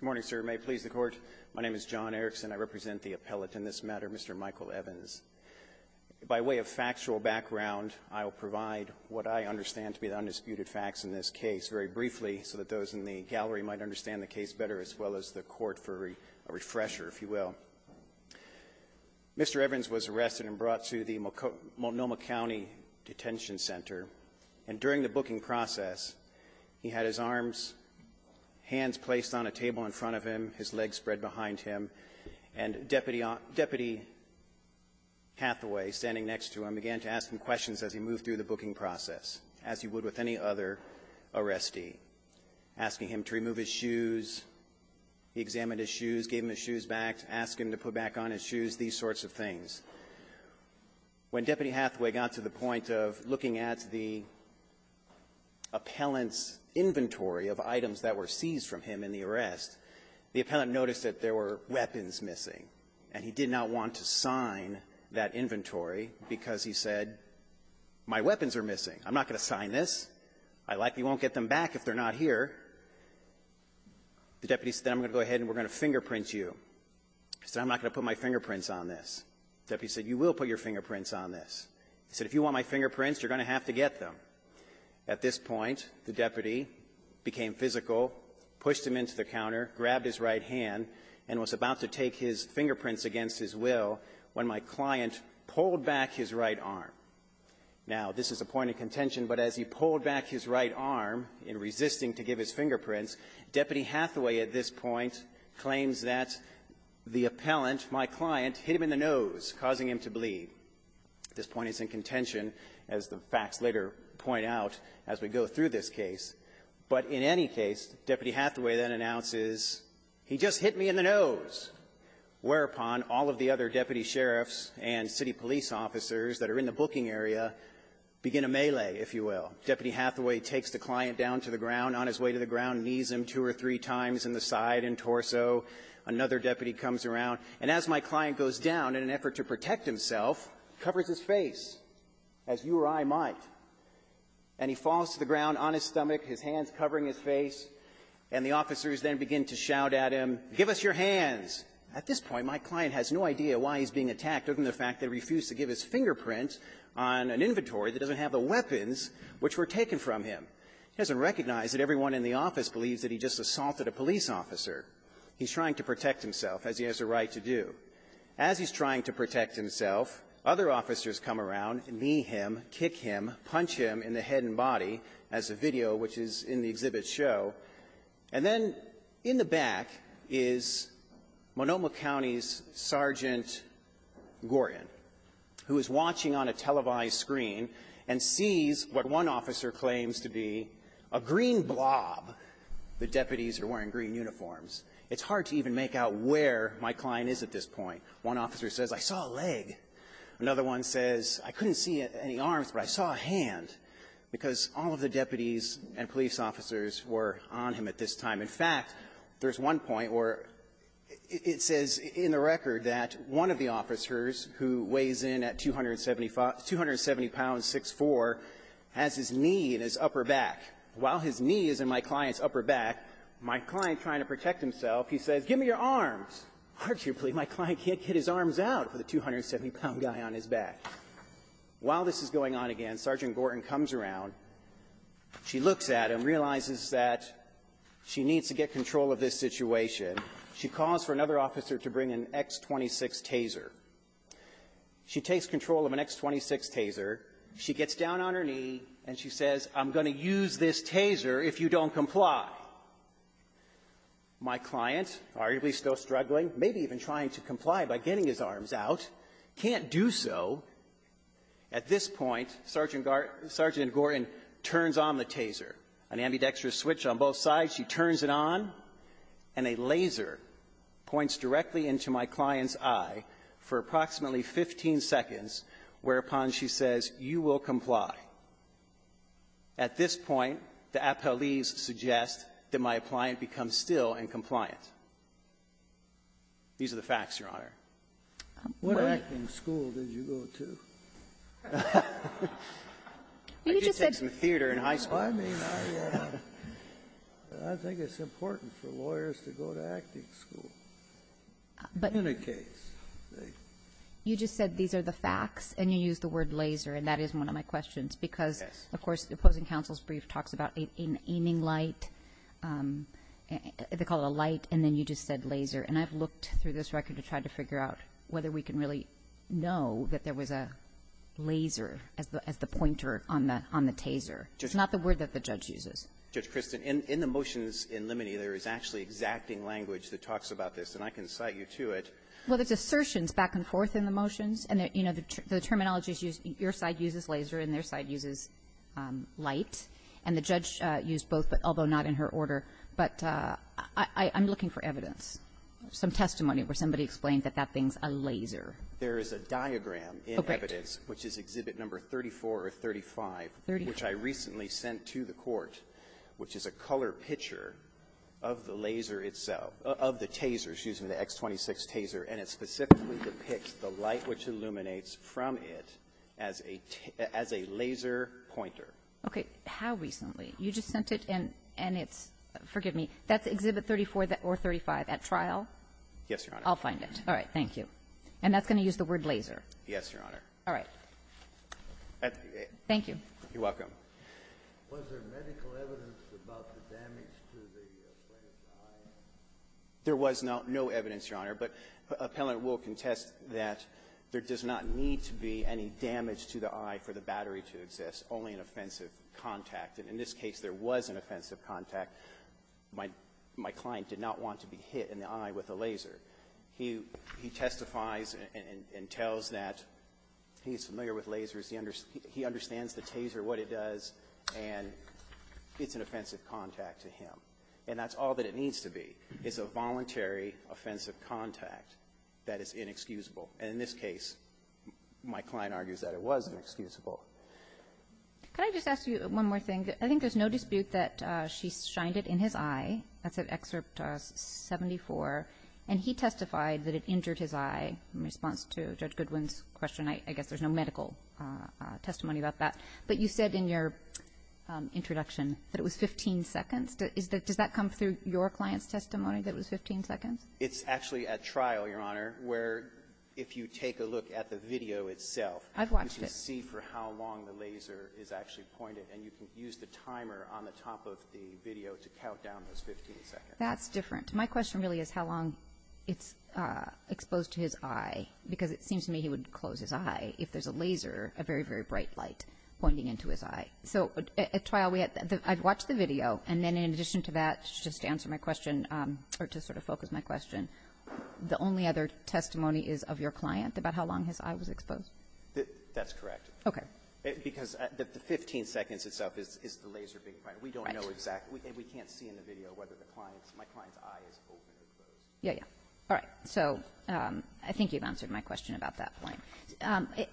Good morning, sir. May it please the Court, my name is John Erickson. I represent the appellate in this matter, Mr. Michael Evans. By way of factual background, I will provide what I understand to be the undisputed facts in this case very briefly so that those in the gallery might understand the case better, as well as the Court, for a refresher, if you will. Mr. Evans was arrested and brought to the Multnomah County Detention Center, and during the booking process, he had his arms, hands placed on a table in front of him, his legs spread behind him, and Deputy Hathaway, standing next to him, began to ask him questions as he moved through the booking process, as he would with any other arrestee, asking him to remove his shoes. He examined his shoes, gave him his shoes back, asked him to put back on his shoes, these sorts of things. When Deputy Hathaway got to the point of looking at the appellant's inventory of items that were seized from him in the arrest, the appellant noticed that there were weapons missing. And he did not want to sign that inventory because he said, my weapons are missing. I'm not going to sign this. I likely won't get them back if they're not here. The deputy said, then I'm going to go ahead and we're going to fingerprint you. He said, I'm not going to put my fingerprints on this. The deputy said, you will put your fingerprints on this. He said, if you want my fingerprints, you're going to have to get them. At this point, the deputy became physical, pushed him into the counter, grabbed his right hand, and was about to take his fingerprints against his will when my client pulled back his right arm. Now, this is a point of contention, but as he pulled back his right arm in resisting to give his fingerprints, Deputy Hathaway at this point claims that the appellant, my client, hit him in the nose, causing him to bleed. At this point, he's in contention, as the facts later point out as we go through this case. But in any case, Deputy Hathaway then announces, he just hit me in the nose, whereupon all of the other deputy sheriffs and city police officers that are in the booking area begin a melee, if you will. Deputy Hathaway takes the client down to the ground. On his way to the ground, knees him two or three times in the side and torso. Another deputy comes around. And as my client goes down, in an effort to protect himself, covers his face, as you or I might. And he falls to the ground on his stomach, his hands covering his face. And the officers then begin to shout at him, give us your hands. At this point, my client has no idea why he's being attacked, other than the fact that he refused to give his fingerprint on an inventory that doesn't have the weapons which were taken from him. He doesn't recognize that everyone in the office believes that he just assaulted a police officer. He's trying to protect himself, as he has a right to do. As he's trying to protect himself, other officers come around, knee him, kick him, punch him in the head and body, as the video which is in the exhibit show. And then in the back is Monoma County's Sergeant Gorin, who is watching on a televised screen and sees what one officer claims to be a green blob, the deputy's green uniforms. It's hard to even make out where my client is at this point. One officer says, I saw a leg. Another one says, I couldn't see any arms, but I saw a hand, because all of the deputies and police officers were on him at this time. In fact, there's one point where it says in the record that one of the officers who weighs in at 270 pounds, 6'4", has his knee in his upper back. While his knee is in my client's upper back, the other officer has his knee in his lower back. My client, trying to protect himself, he says, give me your arms. Hard to believe my client can't get his arms out for the 270-pound guy on his back. While this is going on again, Sergeant Gorin comes around. She looks at him, realizes that she needs to get control of this situation. She calls for another officer to bring an X-26 taser. She takes control of an X-26 taser. She gets down on her knee, and she says, you will comply. My client, arguably still struggling, maybe even trying to comply by getting his arms out, can't do so. At this point, Sergeant Gorin turns on the taser, an ambidextrous switch on both sides. She turns it on, and a laser points directly into my client's eye for approximately 15 seconds, whereupon she says, you will comply. At this point, the appellee's suggestion is that the officer should suggest that my client become still and compliant. These are the facts, Your Honor. What acting school did you go to? I did take some theater in high school. I mean, I think it's important for lawyers to go to acting school. In a case. You just said these are the facts, and you used the word laser, and that is one of my favorite words. You said light. They call it a light, and then you just said laser. And I've looked through this record to try to figure out whether we can really know that there was a laser as the pointer on the taser. It's not the word that the judge uses. Judge Kristin, in the motions in Limini, there is actually exacting language that talks about this, and I can cite you to it. Well, there's assertions back and forth in the motions, and, you know, the terminology that the judges use, your side uses laser and their side uses light, and the judge used both, but although not in her order. But I'm looking for evidence, some testimony where somebody explained that that thing's a laser. There is a diagram in evidence, which is Exhibit No. 34 or 35, which I recently sent to the court, which is a color picture of the laser itself, of the taser, excuse me, the X26 taser, and it specifically depicts the light which illuminates from it as a laser pointer. Okay. How recently? You just sent it, and it's – forgive me. That's Exhibit 34 or 35 at trial? Yes, Your Honor. I'll find it. All right. Thank you. And that's going to use the word laser? Yes, Your Honor. All right. Thank you. You're welcome. Was there medical evidence about the damage to the plaintiff's eye? There was no evidence, Your Honor, but appellant will contest that there does not need to be any damage to the eye for the battery to exist, only an offensive contact. In this case, there was an offensive contact. My client did not want to be hit in the eye with a laser. He testifies and tells that he's familiar with lasers. He understands the taser, what it does, and it's an offensive contact to him. And that's all that it needs to be is a voluntary offensive contact that is inexcusable. And in this case, my client argues that it was inexcusable. Could I just ask you one more thing? I think there's no dispute that she shined it in his eye. That's at Excerpt 74. And he testified that it injured his eye in response to Judge Goodwin's question. I guess there's no medical testimony about that. But you said in your introduction that it was 15 seconds. Does that come through your client's testimony that it was 15 seconds? It's actually at trial, Your Honor, where if you take a look at the video itself. I've watched it. You can see for how long the laser is actually pointed, and you can use the timer on the top of the video to count down those 15 seconds. That's different. My question really is how long it's exposed to his eye, because it seems to me he would close his eye if there's a laser, a very, very bright light pointing into his eye. So at trial, I've watched the video. And then in addition to that, just to answer my question or to sort of focus my question, the only other testimony is of your client about how long his eye was exposed? That's correct. Okay. Because the 15 seconds itself is the laser being pointed. We don't know exactly. And we can't see in the video whether my client's eye is open or closed. Yeah, yeah. All right. So I think you've answered my question about that point,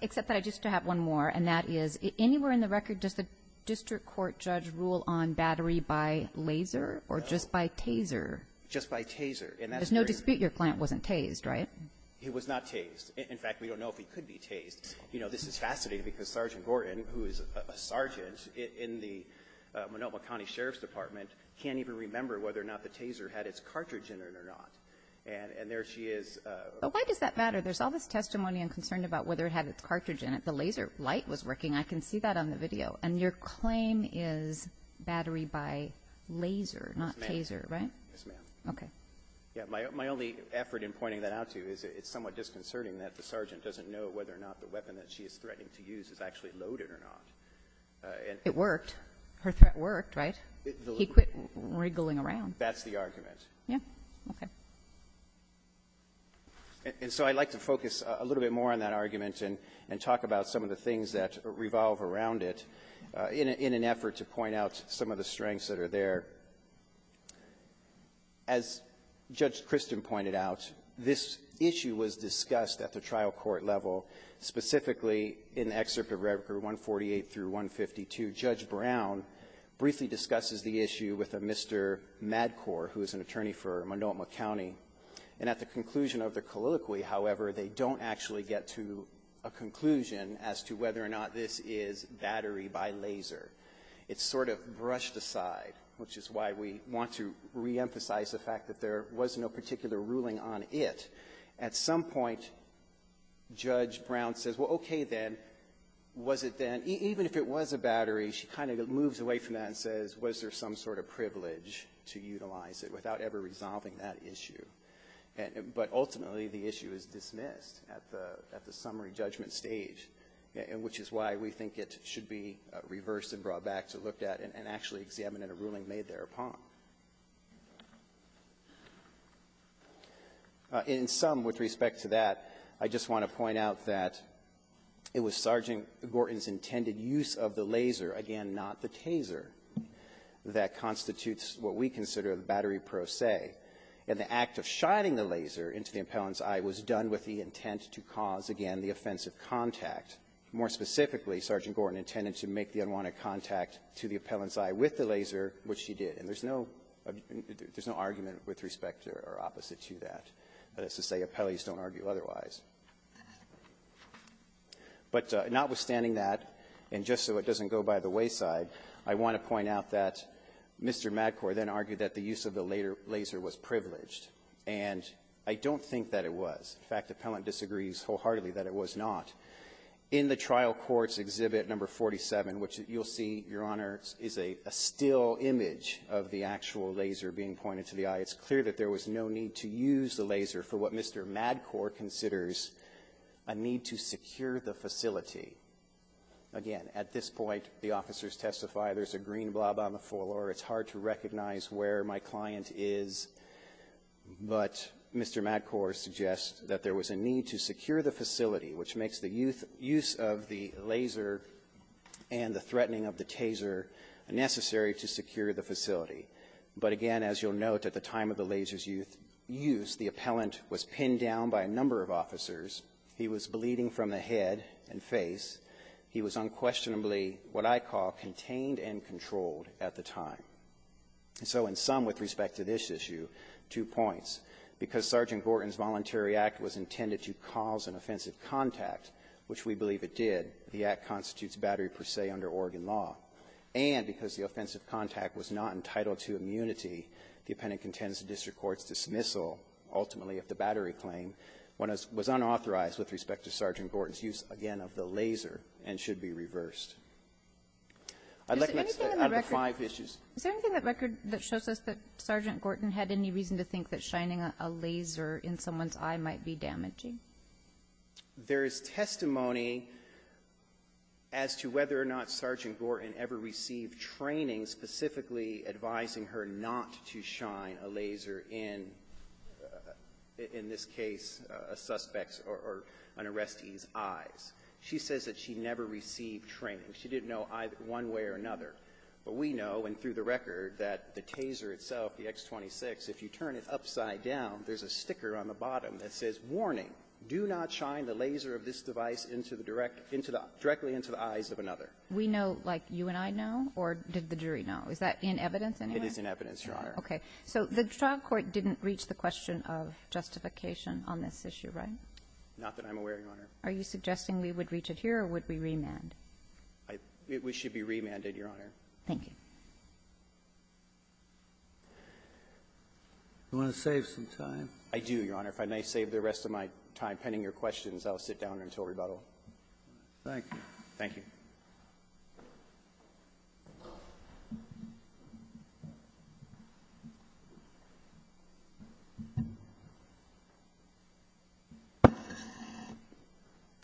except that I just have one more, and that is, anywhere in the record, does the district court judge rule on battery by laser or just by taser? Just by taser. There's no dispute your client wasn't tased, right? He was not tased. In fact, we don't know if he could be tased. You know, this is fascinating because Sergeant Gordon, who is a sergeant in the Menomah County Sheriff's Department, can't even remember whether or not the taser had its cartridge in it or not. And there she is. Why does that matter? There's all this testimony I'm concerned about whether it had its cartridge in it. The laser light was working. I can see that on the video. And your claim is battery by laser, not taser, right? Yes, ma'am. Okay. Yeah, my only effort in pointing that out to you is it's somewhat disconcerting that the sergeant doesn't know whether or not the weapon that she is threatening to use is actually loaded or not. It worked. Her threat worked, right? He quit wriggling around. That's the argument. Yeah. Okay. And so I'd like to focus a little bit more on that argument and talk about some of the things that revolve around it in an effort to point out some of the strengths that are there. As Judge Christen pointed out, this issue was discussed at the trial court level, specifically in the excerpt of Rev. 148 through 152. Judge Brown briefly discusses the issue with a Mr. Madcor, who is an attorney for Monoa County. And at the conclusion of the colloquy, however, they don't actually get to a conclusion as to whether or not this is battery by laser. It's sort of brushed aside, which is why we want to reemphasize the fact that there was no particular ruling on it. At some point, Judge Brown says, well, okay then, was it then? Even if it was a battery, she kind of moves away from that and says, was there some sort of privilege to utilize it without ever resolving that issue? But ultimately, the issue is dismissed at the summary judgment stage, which is why we think it should be reversed and brought back to look at and actually examine a ruling made thereupon. In sum, with respect to that, I just want to point out that it was Sergeant Gorton's intended use of the laser, again, not the taser, that constitutes what we consider the battery pro se. And the act of shining the laser into the appellant's eye was done with the intent to cause, again, the offensive contact. More specifically, Sergeant Gorton intended to make the unwanted contact to the appellant's eye with the laser, which she did. And there's no argument with respect or opposite to that. That is to say, appellees don't argue otherwise. But notwithstanding that, and just so it doesn't go by the wayside, I want to point out that Mr. Madcore then argued that the use of the laser was privileged. And I don't think that it was. In fact, the appellant disagrees wholeheartedly that it was not. In the trial court's Exhibit No. 47, which you'll see, Your Honor, is a still image of the actual laser being pointed to the eye, it's clear that there was no need to use the laser for what Mr. Madcore considers a need to secure the facility. Again, at this point, the officers testify there's a green blob on the floor. It's hard to recognize where my client is. But Mr. Madcore suggests that there was a need to secure the facility, which makes the use of the laser and the threatening of the taser necessary to secure the facility. But again, as you'll note, at the time of the laser's use, the appellant was pinned down by a number of officers, he was bleeding from the head and face, he was unquestionably what I call contained and controlled at the time. So in sum with respect to this issue, two points. Because Sergeant Gorton's voluntary act was intended to cause an offensive contact, which we believe it did, the act constitutes battery per se under Oregon law, and because the offensive contact was not entitled to immunity, the appellant contends to district court's dismissal ultimately of the battery claim when it was unauthorized with respect to Sergeant Gorton's use, again, of the laser and should be reversed. I'd like to ask out of the five issues. Is there anything in the record that shows us that Sergeant Gorton had any reason to think that shining a laser in someone's eye might be damaging? There is testimony as to whether or not Sergeant Gorton ever received training specifically advising her not to shine a laser in, in this case, a suspect's or an arrestee's eyes. She says that she never received training. She didn't know one way or another. But we know, and through the record, that the taser itself, the X26, if you turn it upside down, there's a sticker on the bottom that says, warning, do not shine the laser of this device directly into the eyes of another. We know, like you and I know, or did the jury know? Is that in evidence, anyway? It is in evidence, Your Honor. Okay. So the trial court didn't reach the question of justification on this issue, right? Not that I'm aware, Your Honor. Are you suggesting we would reach it here, or would we remand? We should be remanded, Your Honor. Thank you. Do you want to save some time? I do, Your Honor. If I may save the rest of my time penning your questions, I'll sit down until rebuttal. Thank you. Thank you.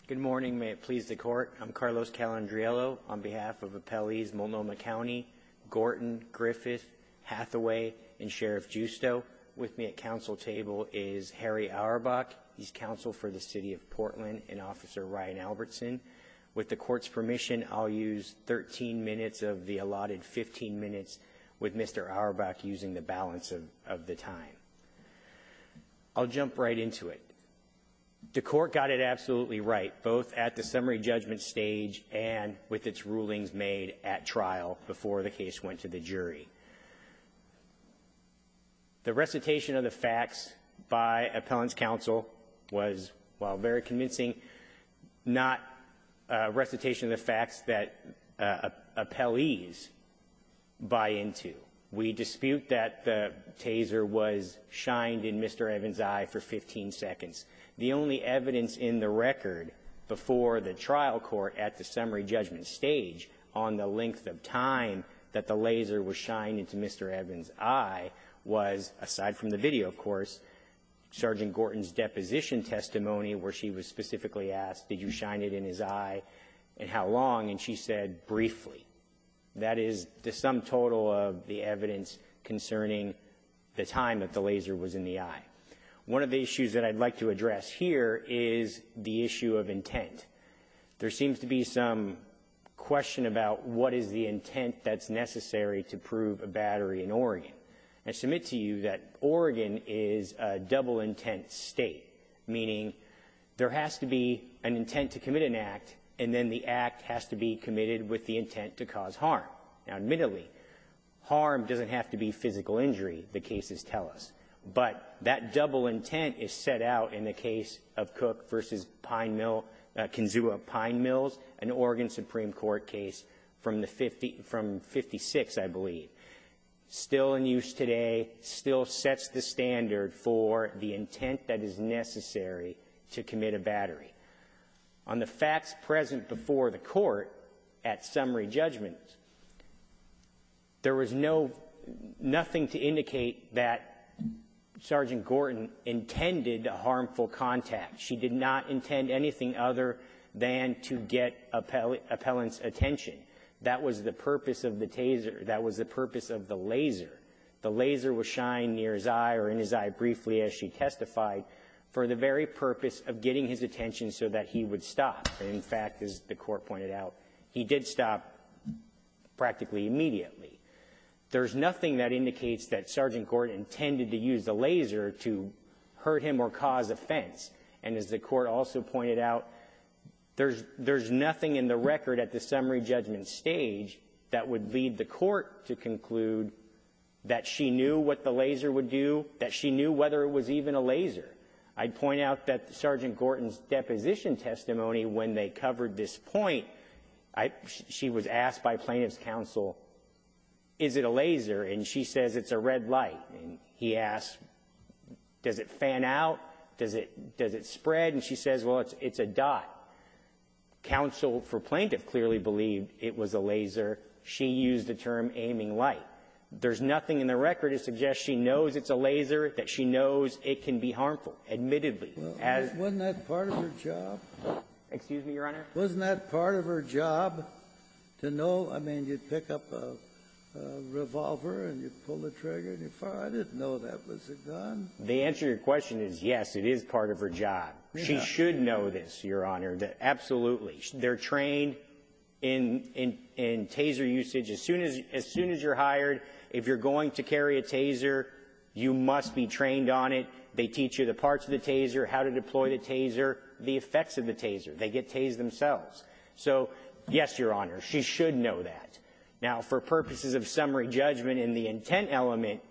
Good morning. May it please the Court. I'm Carlos Calandriello on behalf of Appellees Multnomah County, Gorton, Griffith, Hathaway, and Sheriff Giusto. With me at counsel table is Harry Auerbach. He's counsel for the City of Portland and Officer Ryan Albertson. With the Court's permission, I'll use 13 minutes of the allotted 15 minutes with Mr. Auerbach using the balance of the time. I'll jump right into it. The Court got it absolutely right, both at the summary judgment stage and with its rulings made at trial before the case went to the jury. The recitation of the facts by appellant's counsel was, while very convincing, not a recitation of the facts that appellees buy into. We dispute that the taser was shined in Mr. Evans' eye for 15 seconds. The only evidence in the record before the trial court at the summary judgment stage on the length of time that the laser was shined into Mr. Evans' eye was, aside from the video, of course, Sergeant Gorton's deposition testimony where she was specifically asked, did you shine it in his eye and how long? And she said, briefly. That is the sum total of the evidence concerning the time that the laser was in the eye. One of the issues that I'd like to address here is the issue of intent. There seems to be some question about what is the intent that's necessary to prove a battery in Oregon. I submit to you that Oregon is a double intent state, meaning there has to be an intent to commit an act and then the act has to be committed with the intent to cause harm. Now, admittedly, harm doesn't have to be physical injury, the cases tell us, but that double intent is set out in the case of Cook v. Kinsua Pine Mills, an Oregon Supreme Court case from 1956, I believe. Still in use today, still sets the standard for the intent that is necessary to commit a battery. On the facts present before the court at summary judgment, there was nothing to indicate that Sergeant Gorton intended a harmful contact. She did not intend anything other than to get appellant's attention. That was the purpose of the taser. That was the purpose of the laser. The laser was shined near his eye or in his eye briefly, as she testified, for the very purpose of getting his attention so that he would stop. In fact, as the court pointed out, he did stop practically immediately. There's nothing that indicates that Sergeant Gorton intended to use the laser to hurt him or cause offense. And as the court also pointed out, there's nothing in the record at the summary judgment stage that would lead the court to conclude that she knew what the laser would do, that she knew whether it was even a laser. I'd point out that Sergeant Gorton's deposition testimony when they covered this point, she was asked by plaintiff's counsel, is it a laser? And she says it's a red light. And he asked, does it fan out? Does it spread? And she says, well, it's a dot. Counsel for plaintiff clearly believed it was a laser. She used the term aiming light. There's nothing in the record to suggest she knows it's a laser, that she knows it can be harmful, admittedly. Wasn't that part of her job? Excuse me, Your Honor? Wasn't that part of her job to know? I mean, you'd pick up a revolver, and you'd pull the trigger, and you'd fire. I didn't know that was a gun. The answer to your question is yes, it is part of her job. She should know this, Your Honor, absolutely. They're trained in taser usage. As soon as you're hired, if you're going to carry a taser, you must be trained on it. They teach you the parts of the taser, how to deploy the taser, the effects of the taser. They get tased themselves. So yes, Your Honor, she should know that. Now, for purposes of summary judgment in the intent element,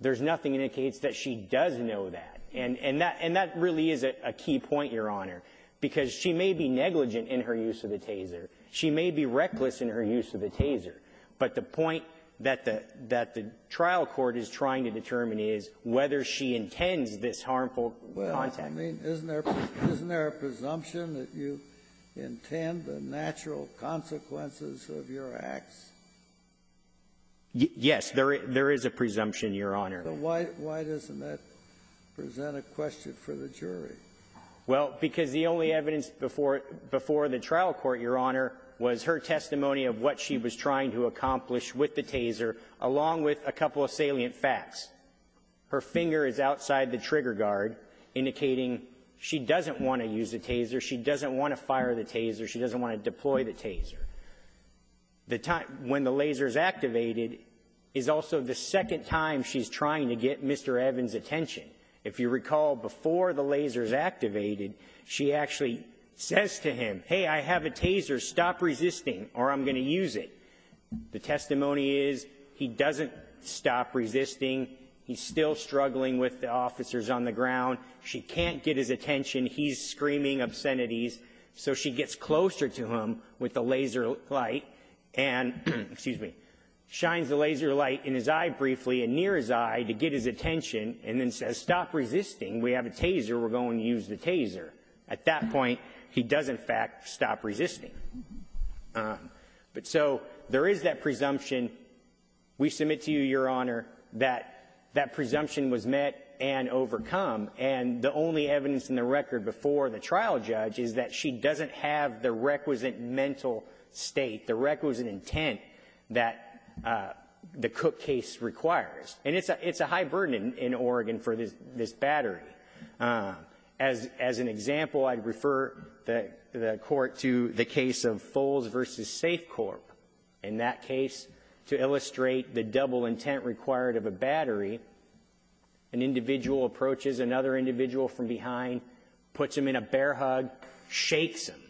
there's nothing indicates that she does know that. And that really is a key point, Your Honor, because she may be negligent in her use of the taser. She may be reckless in her use of the taser. But the point that the trial court is trying to determine is whether she intends this harmful contact. Well, I mean, isn't there a presumption that you intend the natural consequences of your acts? Yes. There is a presumption, Your Honor. Why doesn't that present a question for the jury? Well, because the only evidence before the trial court, Your Honor, was her testimony of what she was trying to accomplish with the taser, along with a couple of salient facts. Her finger is outside the trigger guard, indicating she doesn't want to use the taser, she doesn't want to fire the taser, she doesn't want to deploy the taser. When the laser is activated is also the second time she's trying to get Mr. Evans' attention. If you recall, before the laser is activated, she actually says to him, hey, I have a taser. I'm going to use it. The testimony is he doesn't stop resisting. He's still struggling with the officers on the ground. She can't get his attention. He's screaming obscenities. So she gets closer to him with the laser light and, excuse me, shines the laser light in his eye briefly and near his eye to get his attention and then says, stop resisting. We have a taser. We're going to use the taser. At that point, he does, in fact, stop resisting. So there is that presumption. We submit to you, Your Honor, that that presumption was met and overcome. And the only evidence in the record before the trial judge is that she doesn't have the requisite mental state, the requisite intent that the Cook case requires. And it's a high burden in Oregon for this battery. As an example, I'd refer the court to the case of Foles v. Safecorp. In that case, to illustrate the double intent required of a battery, an individual approaches another individual from behind, puts him in a bear hug, shakes him.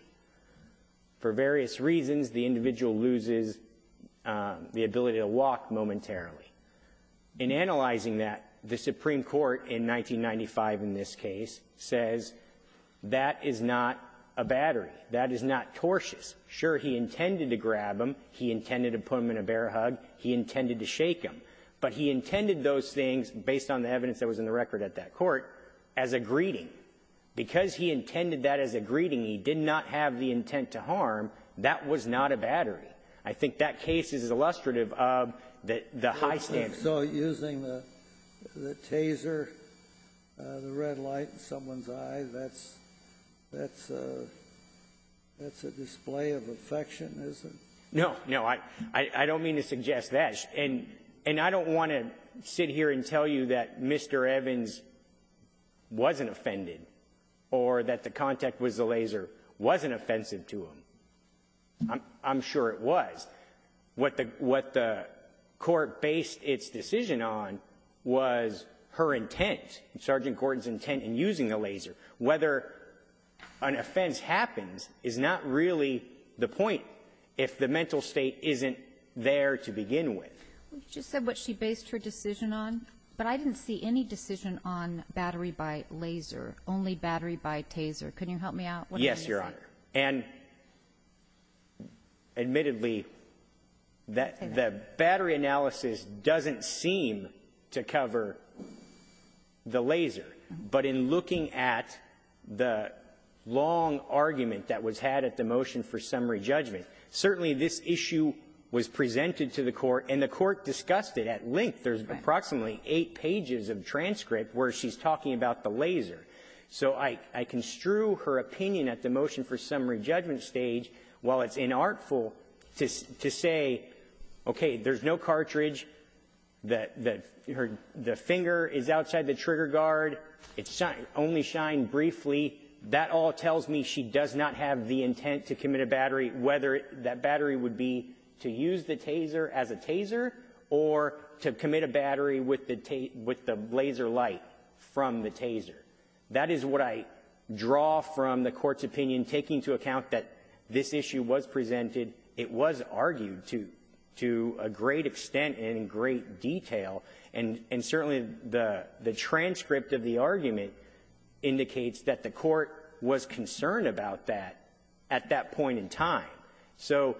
For various reasons, the individual loses the ability to walk momentarily. In analyzing that, the Supreme Court in 1995 in this case says that is not a battery. That is not tortious. Sure, he intended to grab him. He intended to put him in a bear hug. He intended to shake him. But he intended those things, based on the evidence that was in the record at that court, as a greeting. Because he intended that as a greeting, he did not have the intent to harm. That was not a battery. I think that case is illustrative of the high standard. So using the taser, the red light in someone's eye, that's a display of affection, is it? No, no. I don't mean to suggest that. And I don't want to sit here and tell you that Mr. Evans wasn't offended, or that the contact with the laser wasn't offensive to him. I'm sure it was. What the court based its decision on was her intent, Sergeant Gordon's intent in using the laser. Whether an offense happens is not really the point, if the mental state isn't there to begin with. You just said what she based her decision on. But I didn't see any decision on battery by laser, only battery by taser. Can you help me out? Yes, Your Honor. And admittedly, the battery analysis doesn't seem to cover the laser. But in looking at the long argument that was had at the motion for summary judgment, certainly this issue was presented to the court, and the court discussed it at length. There's approximately eight pages of transcript where she's talking about the laser. So I construe her opinion at the motion for summary judgment stage, while it's inartful, to say, okay, there's no cartridge, the finger is outside the trigger guard, it only shined briefly. That all tells me she does not have the intent to commit a battery, whether that battery would be to use the taser as a taser or to commit a battery with the laser light from the taser. That is what I draw from the court's opinion, taking into account that this issue was presented, it was argued to a great extent and in great detail. And certainly the transcript of the argument indicates that the court was concerned about that at that point in time. So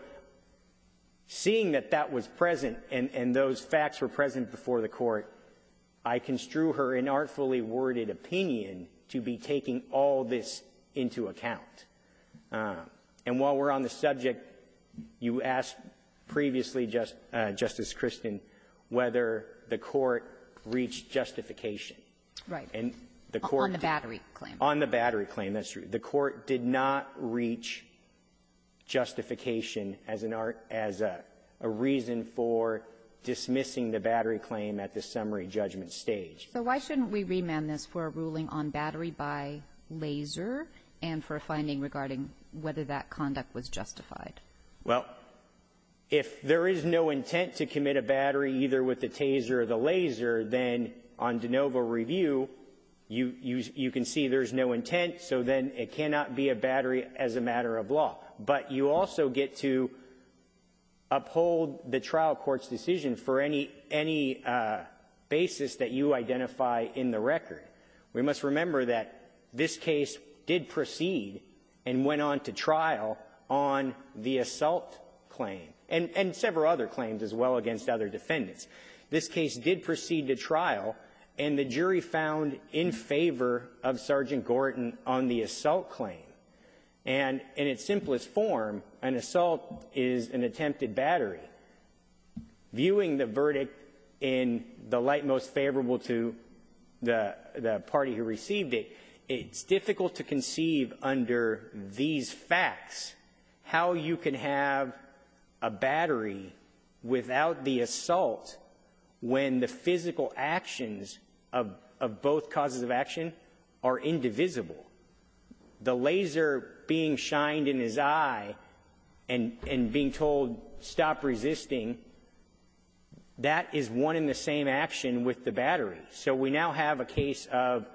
seeing that that was present and those facts were present before the court, I construe her inartfully worded opinion to be taking all this into account. And while we're on the subject, you asked previously, Justice Christen, whether the court reached justification. And the court did. On the battery claim. On the battery claim. That's true. The court did not reach justification as a reason for dismissing the battery claim at the summary judgment stage. So why shouldn't we remand this for a ruling on battery by laser and for a finding regarding whether that conduct was justified? Well, if there is no intent to commit a battery either with the taser or the laser, then on de novo review, you can see there's no intent. So then it cannot be a battery as a matter of law. But you also get to uphold the trial court's decision for any basis that you identify in the record. We must remember that this case did proceed and went on to trial on the assault claim. And several other claims as well against other defendants. This case did proceed to trial, and the jury found in favor of Sergeant Gordon on the assault claim. And in its simplest form, an assault is an attempted battery. Viewing the verdict in the light most favorable to the party who received it, it's a battery without the assault when the physical actions of both causes of action are indivisible. The laser being shined in his eye and being told stop resisting, that is one in the same action with the battery. So we now have a case of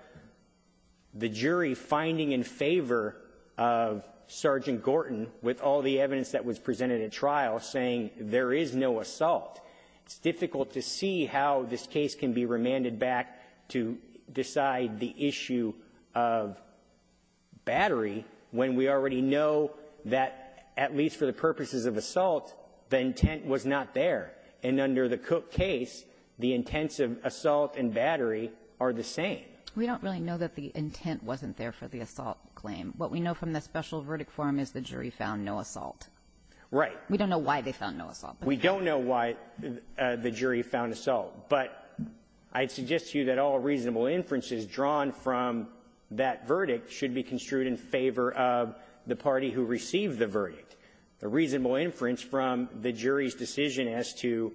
the jury finding in favor of Sergeant Gordon with all the evidence that was presented at trial saying there is no assault. It's difficult to see how this case can be remanded back to decide the issue of battery when we already know that, at least for the purposes of assault, the intent was not there. And under the Cook case, the intents of assault and battery are the same. We don't really know that the intent wasn't there for the assault claim. What we know from the special verdict form is the jury found no assault. Right. We don't know why they found no assault. We don't know why the jury found assault. But I'd suggest to you that all reasonable inferences drawn from that verdict should be construed in favor of the party who received the verdict. The reasonable inference from the jury's decision as to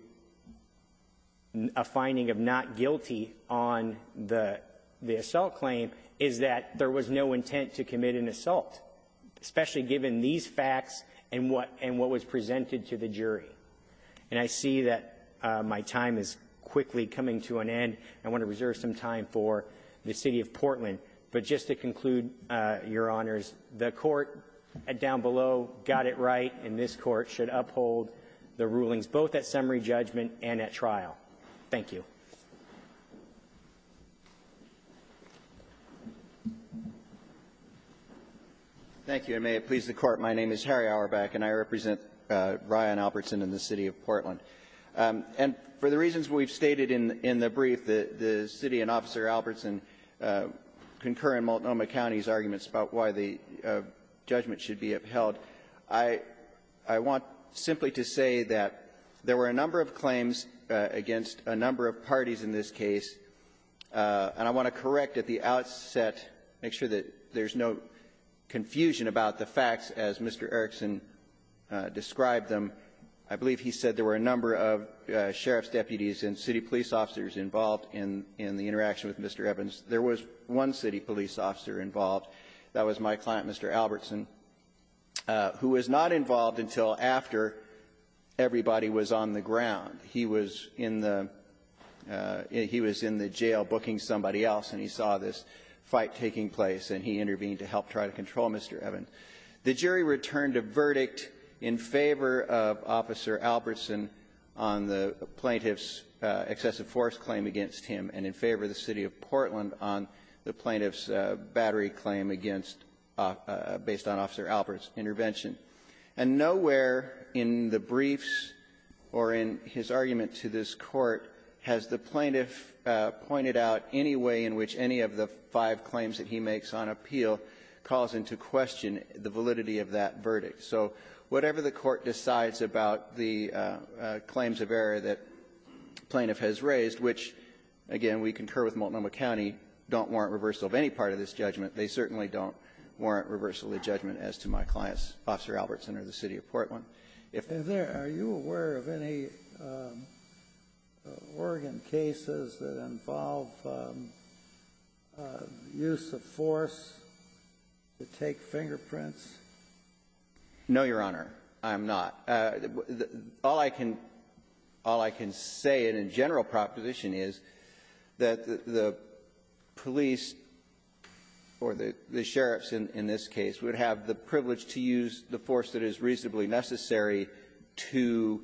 a finding of not guilty on the assault claim is that there was no intent to commit an assault, especially given these facts and what was presented to the jury. And I see that my time is quickly coming to an end. I want to reserve some time for the city of Portland. But just to conclude, Your Honors, the court down below got it right, and this court should uphold the rulings, both at summary judgment and at trial. Thank you. Albertson. Thank you, and may it please the Court. My name is Harry Auerbach, and I represent Ryan Albertson and the city of Portland. And for the reasons we've stated in the brief, the city and Officer Albertson concur in Multnomah County's arguments about why the judgment should be upheld. I want simply to say that there were a number of claims against a number of parties in this case, and I want to correct at the outset, make sure that there's no confusion about the facts as Mr. Erickson described them. I believe he said there were a number of sheriff's deputies and city police officers involved in the interaction with Mr. Evans. There was one city police officer involved. That was my client, Mr. Albertson, who was not involved until after everybody was on the ground. He was in the jail booking somebody else, and he saw this fight taking place, and he intervened to help try to control Mr. Evans. The jury returned a verdict in favor of Officer Albertson on the plaintiff's excessive force claim against him, and in favor of the city of Portland on the plaintiff's And nowhere in the briefs or in his argument to this Court has the plaintiff pointed out any way in which any of the five claims that he makes on appeal calls into question the validity of that verdict. So whatever the Court decides about the claims of error that the plaintiff has raised, which, again, we concur with Multnomah County, don't warrant reversal of any part of this judgment. They certainly don't warrant reversal of the judgment as to my clients, Officer Albertson or the city of Portland. If there are you aware of any Oregon cases that involve use of force to take fingerprints? No, Your Honor, I'm not. All I can say in a general proposition is that the police or the sheriffs in this case would have the privilege to use the force that is reasonably necessary to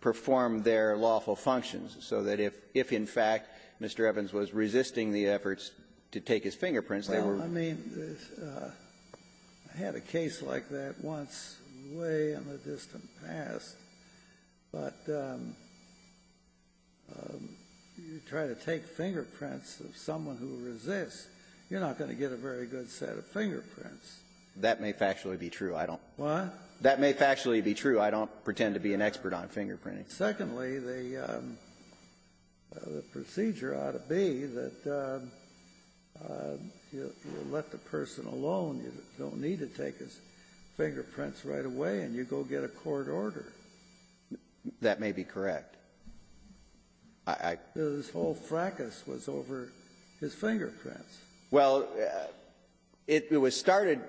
perform their lawful functions, so that if, in fact, Mr. Evans was resisting the efforts to take his fingerprints, they were ---- Well, I mean, I had a case like that once way in the distant past. But you try to take fingerprints of someone who resists, you're not going to get a very good set of fingerprints. That may factually be true. I don't ---- What? That may factually be true. I don't pretend to be an expert on fingerprinting. Secondly, the procedure ought to be that you let the person alone, you don't need to take his fingerprints right away, and you go get a court order. That may be correct. I ---- This whole fracas was over his fingerprints. Well, it was started ----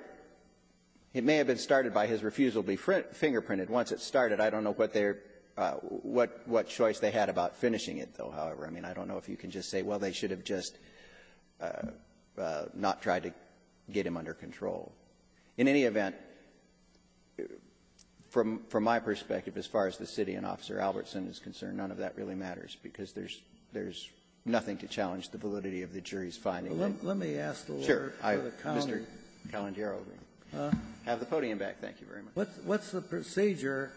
it may have been started by his refusal to be fingerprinted Once it started, I don't know what their ---- what choice they had about finishing it, though, however. I mean, I don't know if you can just say, well, they should have just not tried to get him under control. In any event, from my perspective, as far as the city and Officer Albertson is concerned, none of that really matters, because there's nothing to challenge the validity of the jury's finding. Well, let me ask the Lord for the calendar. Sure. Mr. Calendaro, have the podium back. Thank you very much. What's the procedure?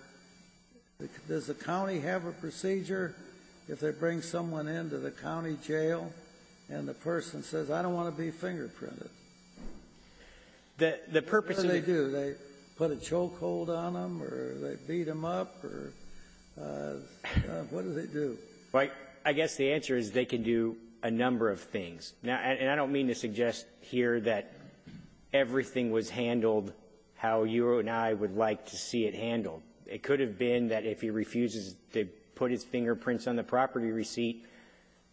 Does the county have a procedure if they bring someone into the county jail and the person says, I don't want to be fingerprinted? The purpose of the ---- What do they do? Do they put a chokehold on him, or do they beat him up, or what do they do? I guess the answer is they can do a number of things. And I don't mean to suggest here that everything was handled how you and I would like to see it handled. It could have been that if he refuses to put his fingerprints on the property receipt,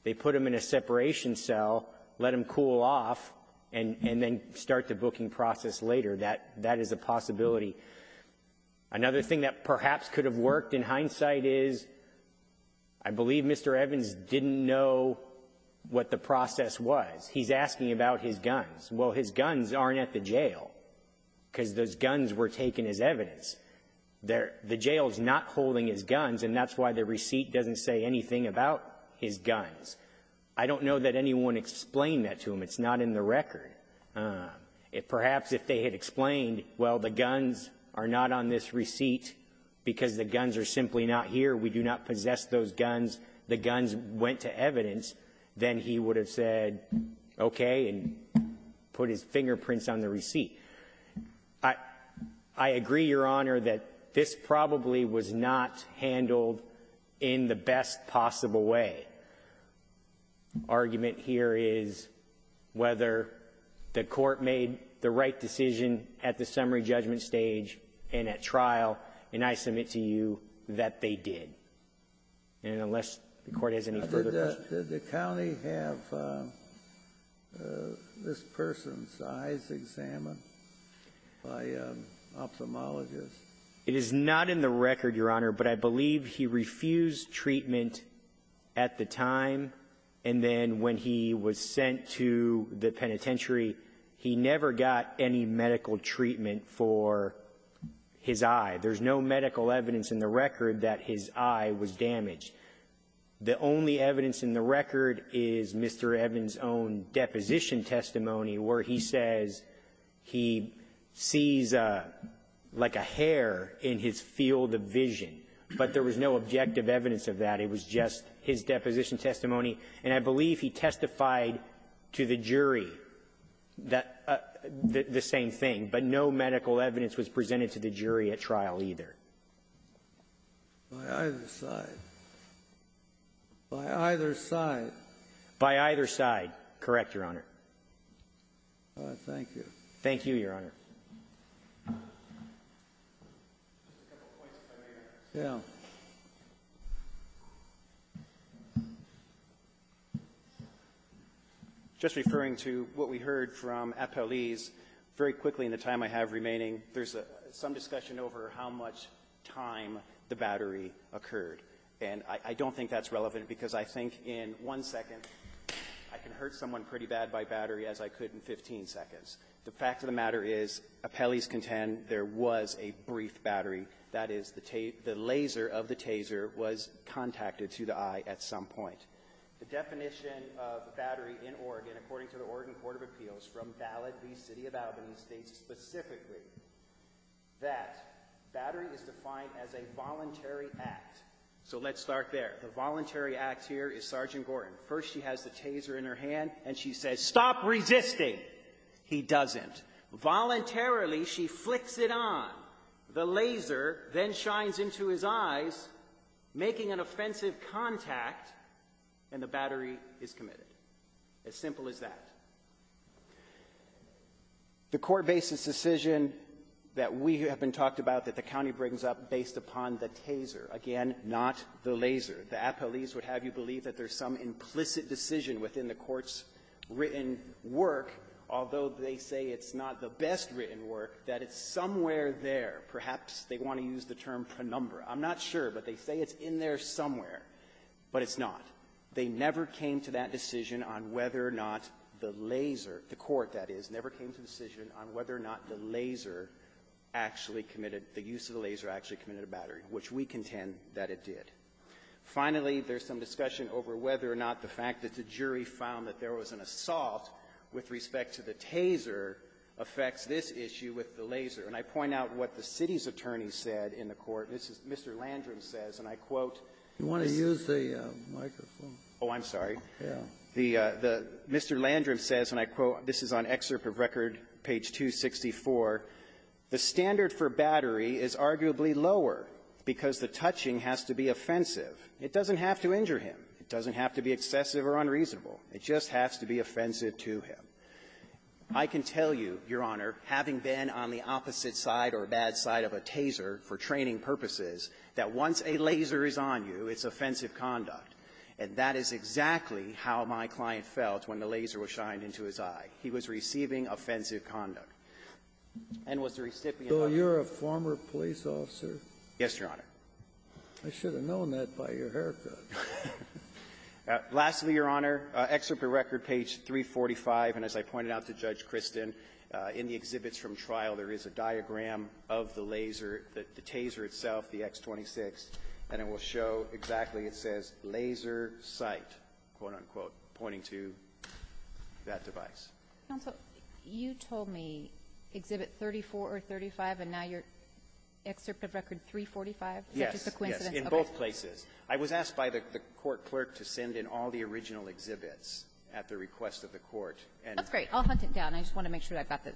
they put him in a separation cell, let him cool off, and then start the booking process later. That is a possibility. Another thing that perhaps could have worked in hindsight is I believe Mr. Evans didn't know what the process was. He's asking about his guns. Well, his guns aren't at the jail because those guns were taken as evidence. The jail is not holding his guns, and that's why the receipt doesn't say anything about his guns. I don't know that anyone explained that to him. It's not in the record. Perhaps if they had explained, well, the guns are not on this receipt because the guns are simply not here. We do not possess those guns. The guns went to evidence. Then he would have said, okay, and put his fingerprints on the receipt. I agree, Your Honor, that this probably was not handled in the best possible way. Argument here is whether the court made the right decision at the summary judgment stage and at trial, and I submit to you that they did. And unless the Court has any further questions. Did the county have this person's eyes examined by an ophthalmologist? It is not in the record, Your Honor, but I believe he refused treatment at the time, and then when he was sent to the penitentiary, he never got any medical treatment for his eye. There's no medical evidence in the record that his eye was damaged. The only evidence in the record is Mr. Evans' own deposition testimony where he says he sees like a hair in his field of vision, but there was no objective evidence of that. It was just his deposition testimony, and I believe he testified to the jury that same thing, but no medical evidence was presented to the jury at trial either. By either side. By either side. By either side. Correct, Your Honor. Thank you. Thank you, Your Honor. Just referring to what we heard from Apeliz, very quickly in the time I have remaining, there's some discussion over how much time the battery occurred, and I don't think that's relevant because I think in one second, I can hurt someone pretty bad by battery as I could in 15 seconds. The fact of the matter is, Apeliz contends there was a brief battery. That is, the laser of the taser was contacted to the eye at some point. The definition of battery in Oregon, according to the Oregon Court of Appeals from Ballot v. City of Albany, states specifically that battery is defined as a voluntary act. So let's start there. The voluntary act here is Sergeant Gorton. First, she has the taser in her hand, and she says, Stop resisting. He doesn't. Voluntarily, she flicks it on. The laser then shines into his eyes, making an offensive contact, and the battery is committed. As simple as that. The court-based decision that we have been talked about that the county brings up based upon the taser, again, not the laser. The Apeliz would have you believe that there's some implicit decision within the court's written work, although they say it's not the best written work, that it's somewhere there. Perhaps they want to use the term penumbra. I'm not sure, but they say it's in there somewhere, but it's not. They never came to that decision on whether or not the laser, the court, that is, never came to the decision on whether or not the laser actually committed, the use of the laser actually committed a battery, which we contend that it did. Finally, there's some discussion over whether or not the fact that the jury found that there was an assault with respect to the taser affects this issue with the laser. And I point out what the city's attorney said in the court. This is Mr. Landrum says, and I quote. You want to use the microphone? Oh, I'm sorry. Yeah. The Mr. Landrum says, and I quote, this is on excerpt of record, page 264, the standard for battery is arguably lower because the touching has to be offensive. It doesn't have to injure him. It doesn't have to be excessive or unreasonable. It just has to be offensive to him. I can tell you, Your Honor, having been on the opposite side or bad side of a taser for training purposes, that once a laser is on you, it's offensive conduct. And that is exactly how my client felt when the laser was shined into his eye. He was receiving offensive conduct. And was the recipient of offensive conduct. Were you a former police officer? Yes, Your Honor. I should have known that by your haircut. Lastly, Your Honor, excerpt of record, page 345. And as I pointed out to Judge Kristin, in the exhibits from trial, there is a diagram of the laser, the taser itself, the X26, and it will show exactly, it says, laser sight, quote, unquote, pointing to that device. Counsel, you told me exhibit 34 or 35, and now your excerpt of record 345? Yes. Is that just a coincidence? Yes, in both places. I was asked by the court clerk to send in all the original exhibits at the request of the court. That's great. I'll hunt it down. I just want to make sure that I've got the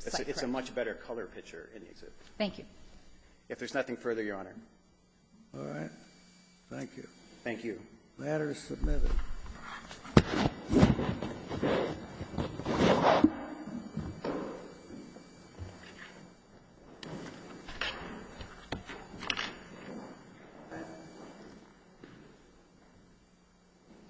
sight correct. It's a much better color picture in the exhibits. Thank you. If there's nothing further, Your Honor. All right. Thank you. Thank you. The matter is submitted. All right.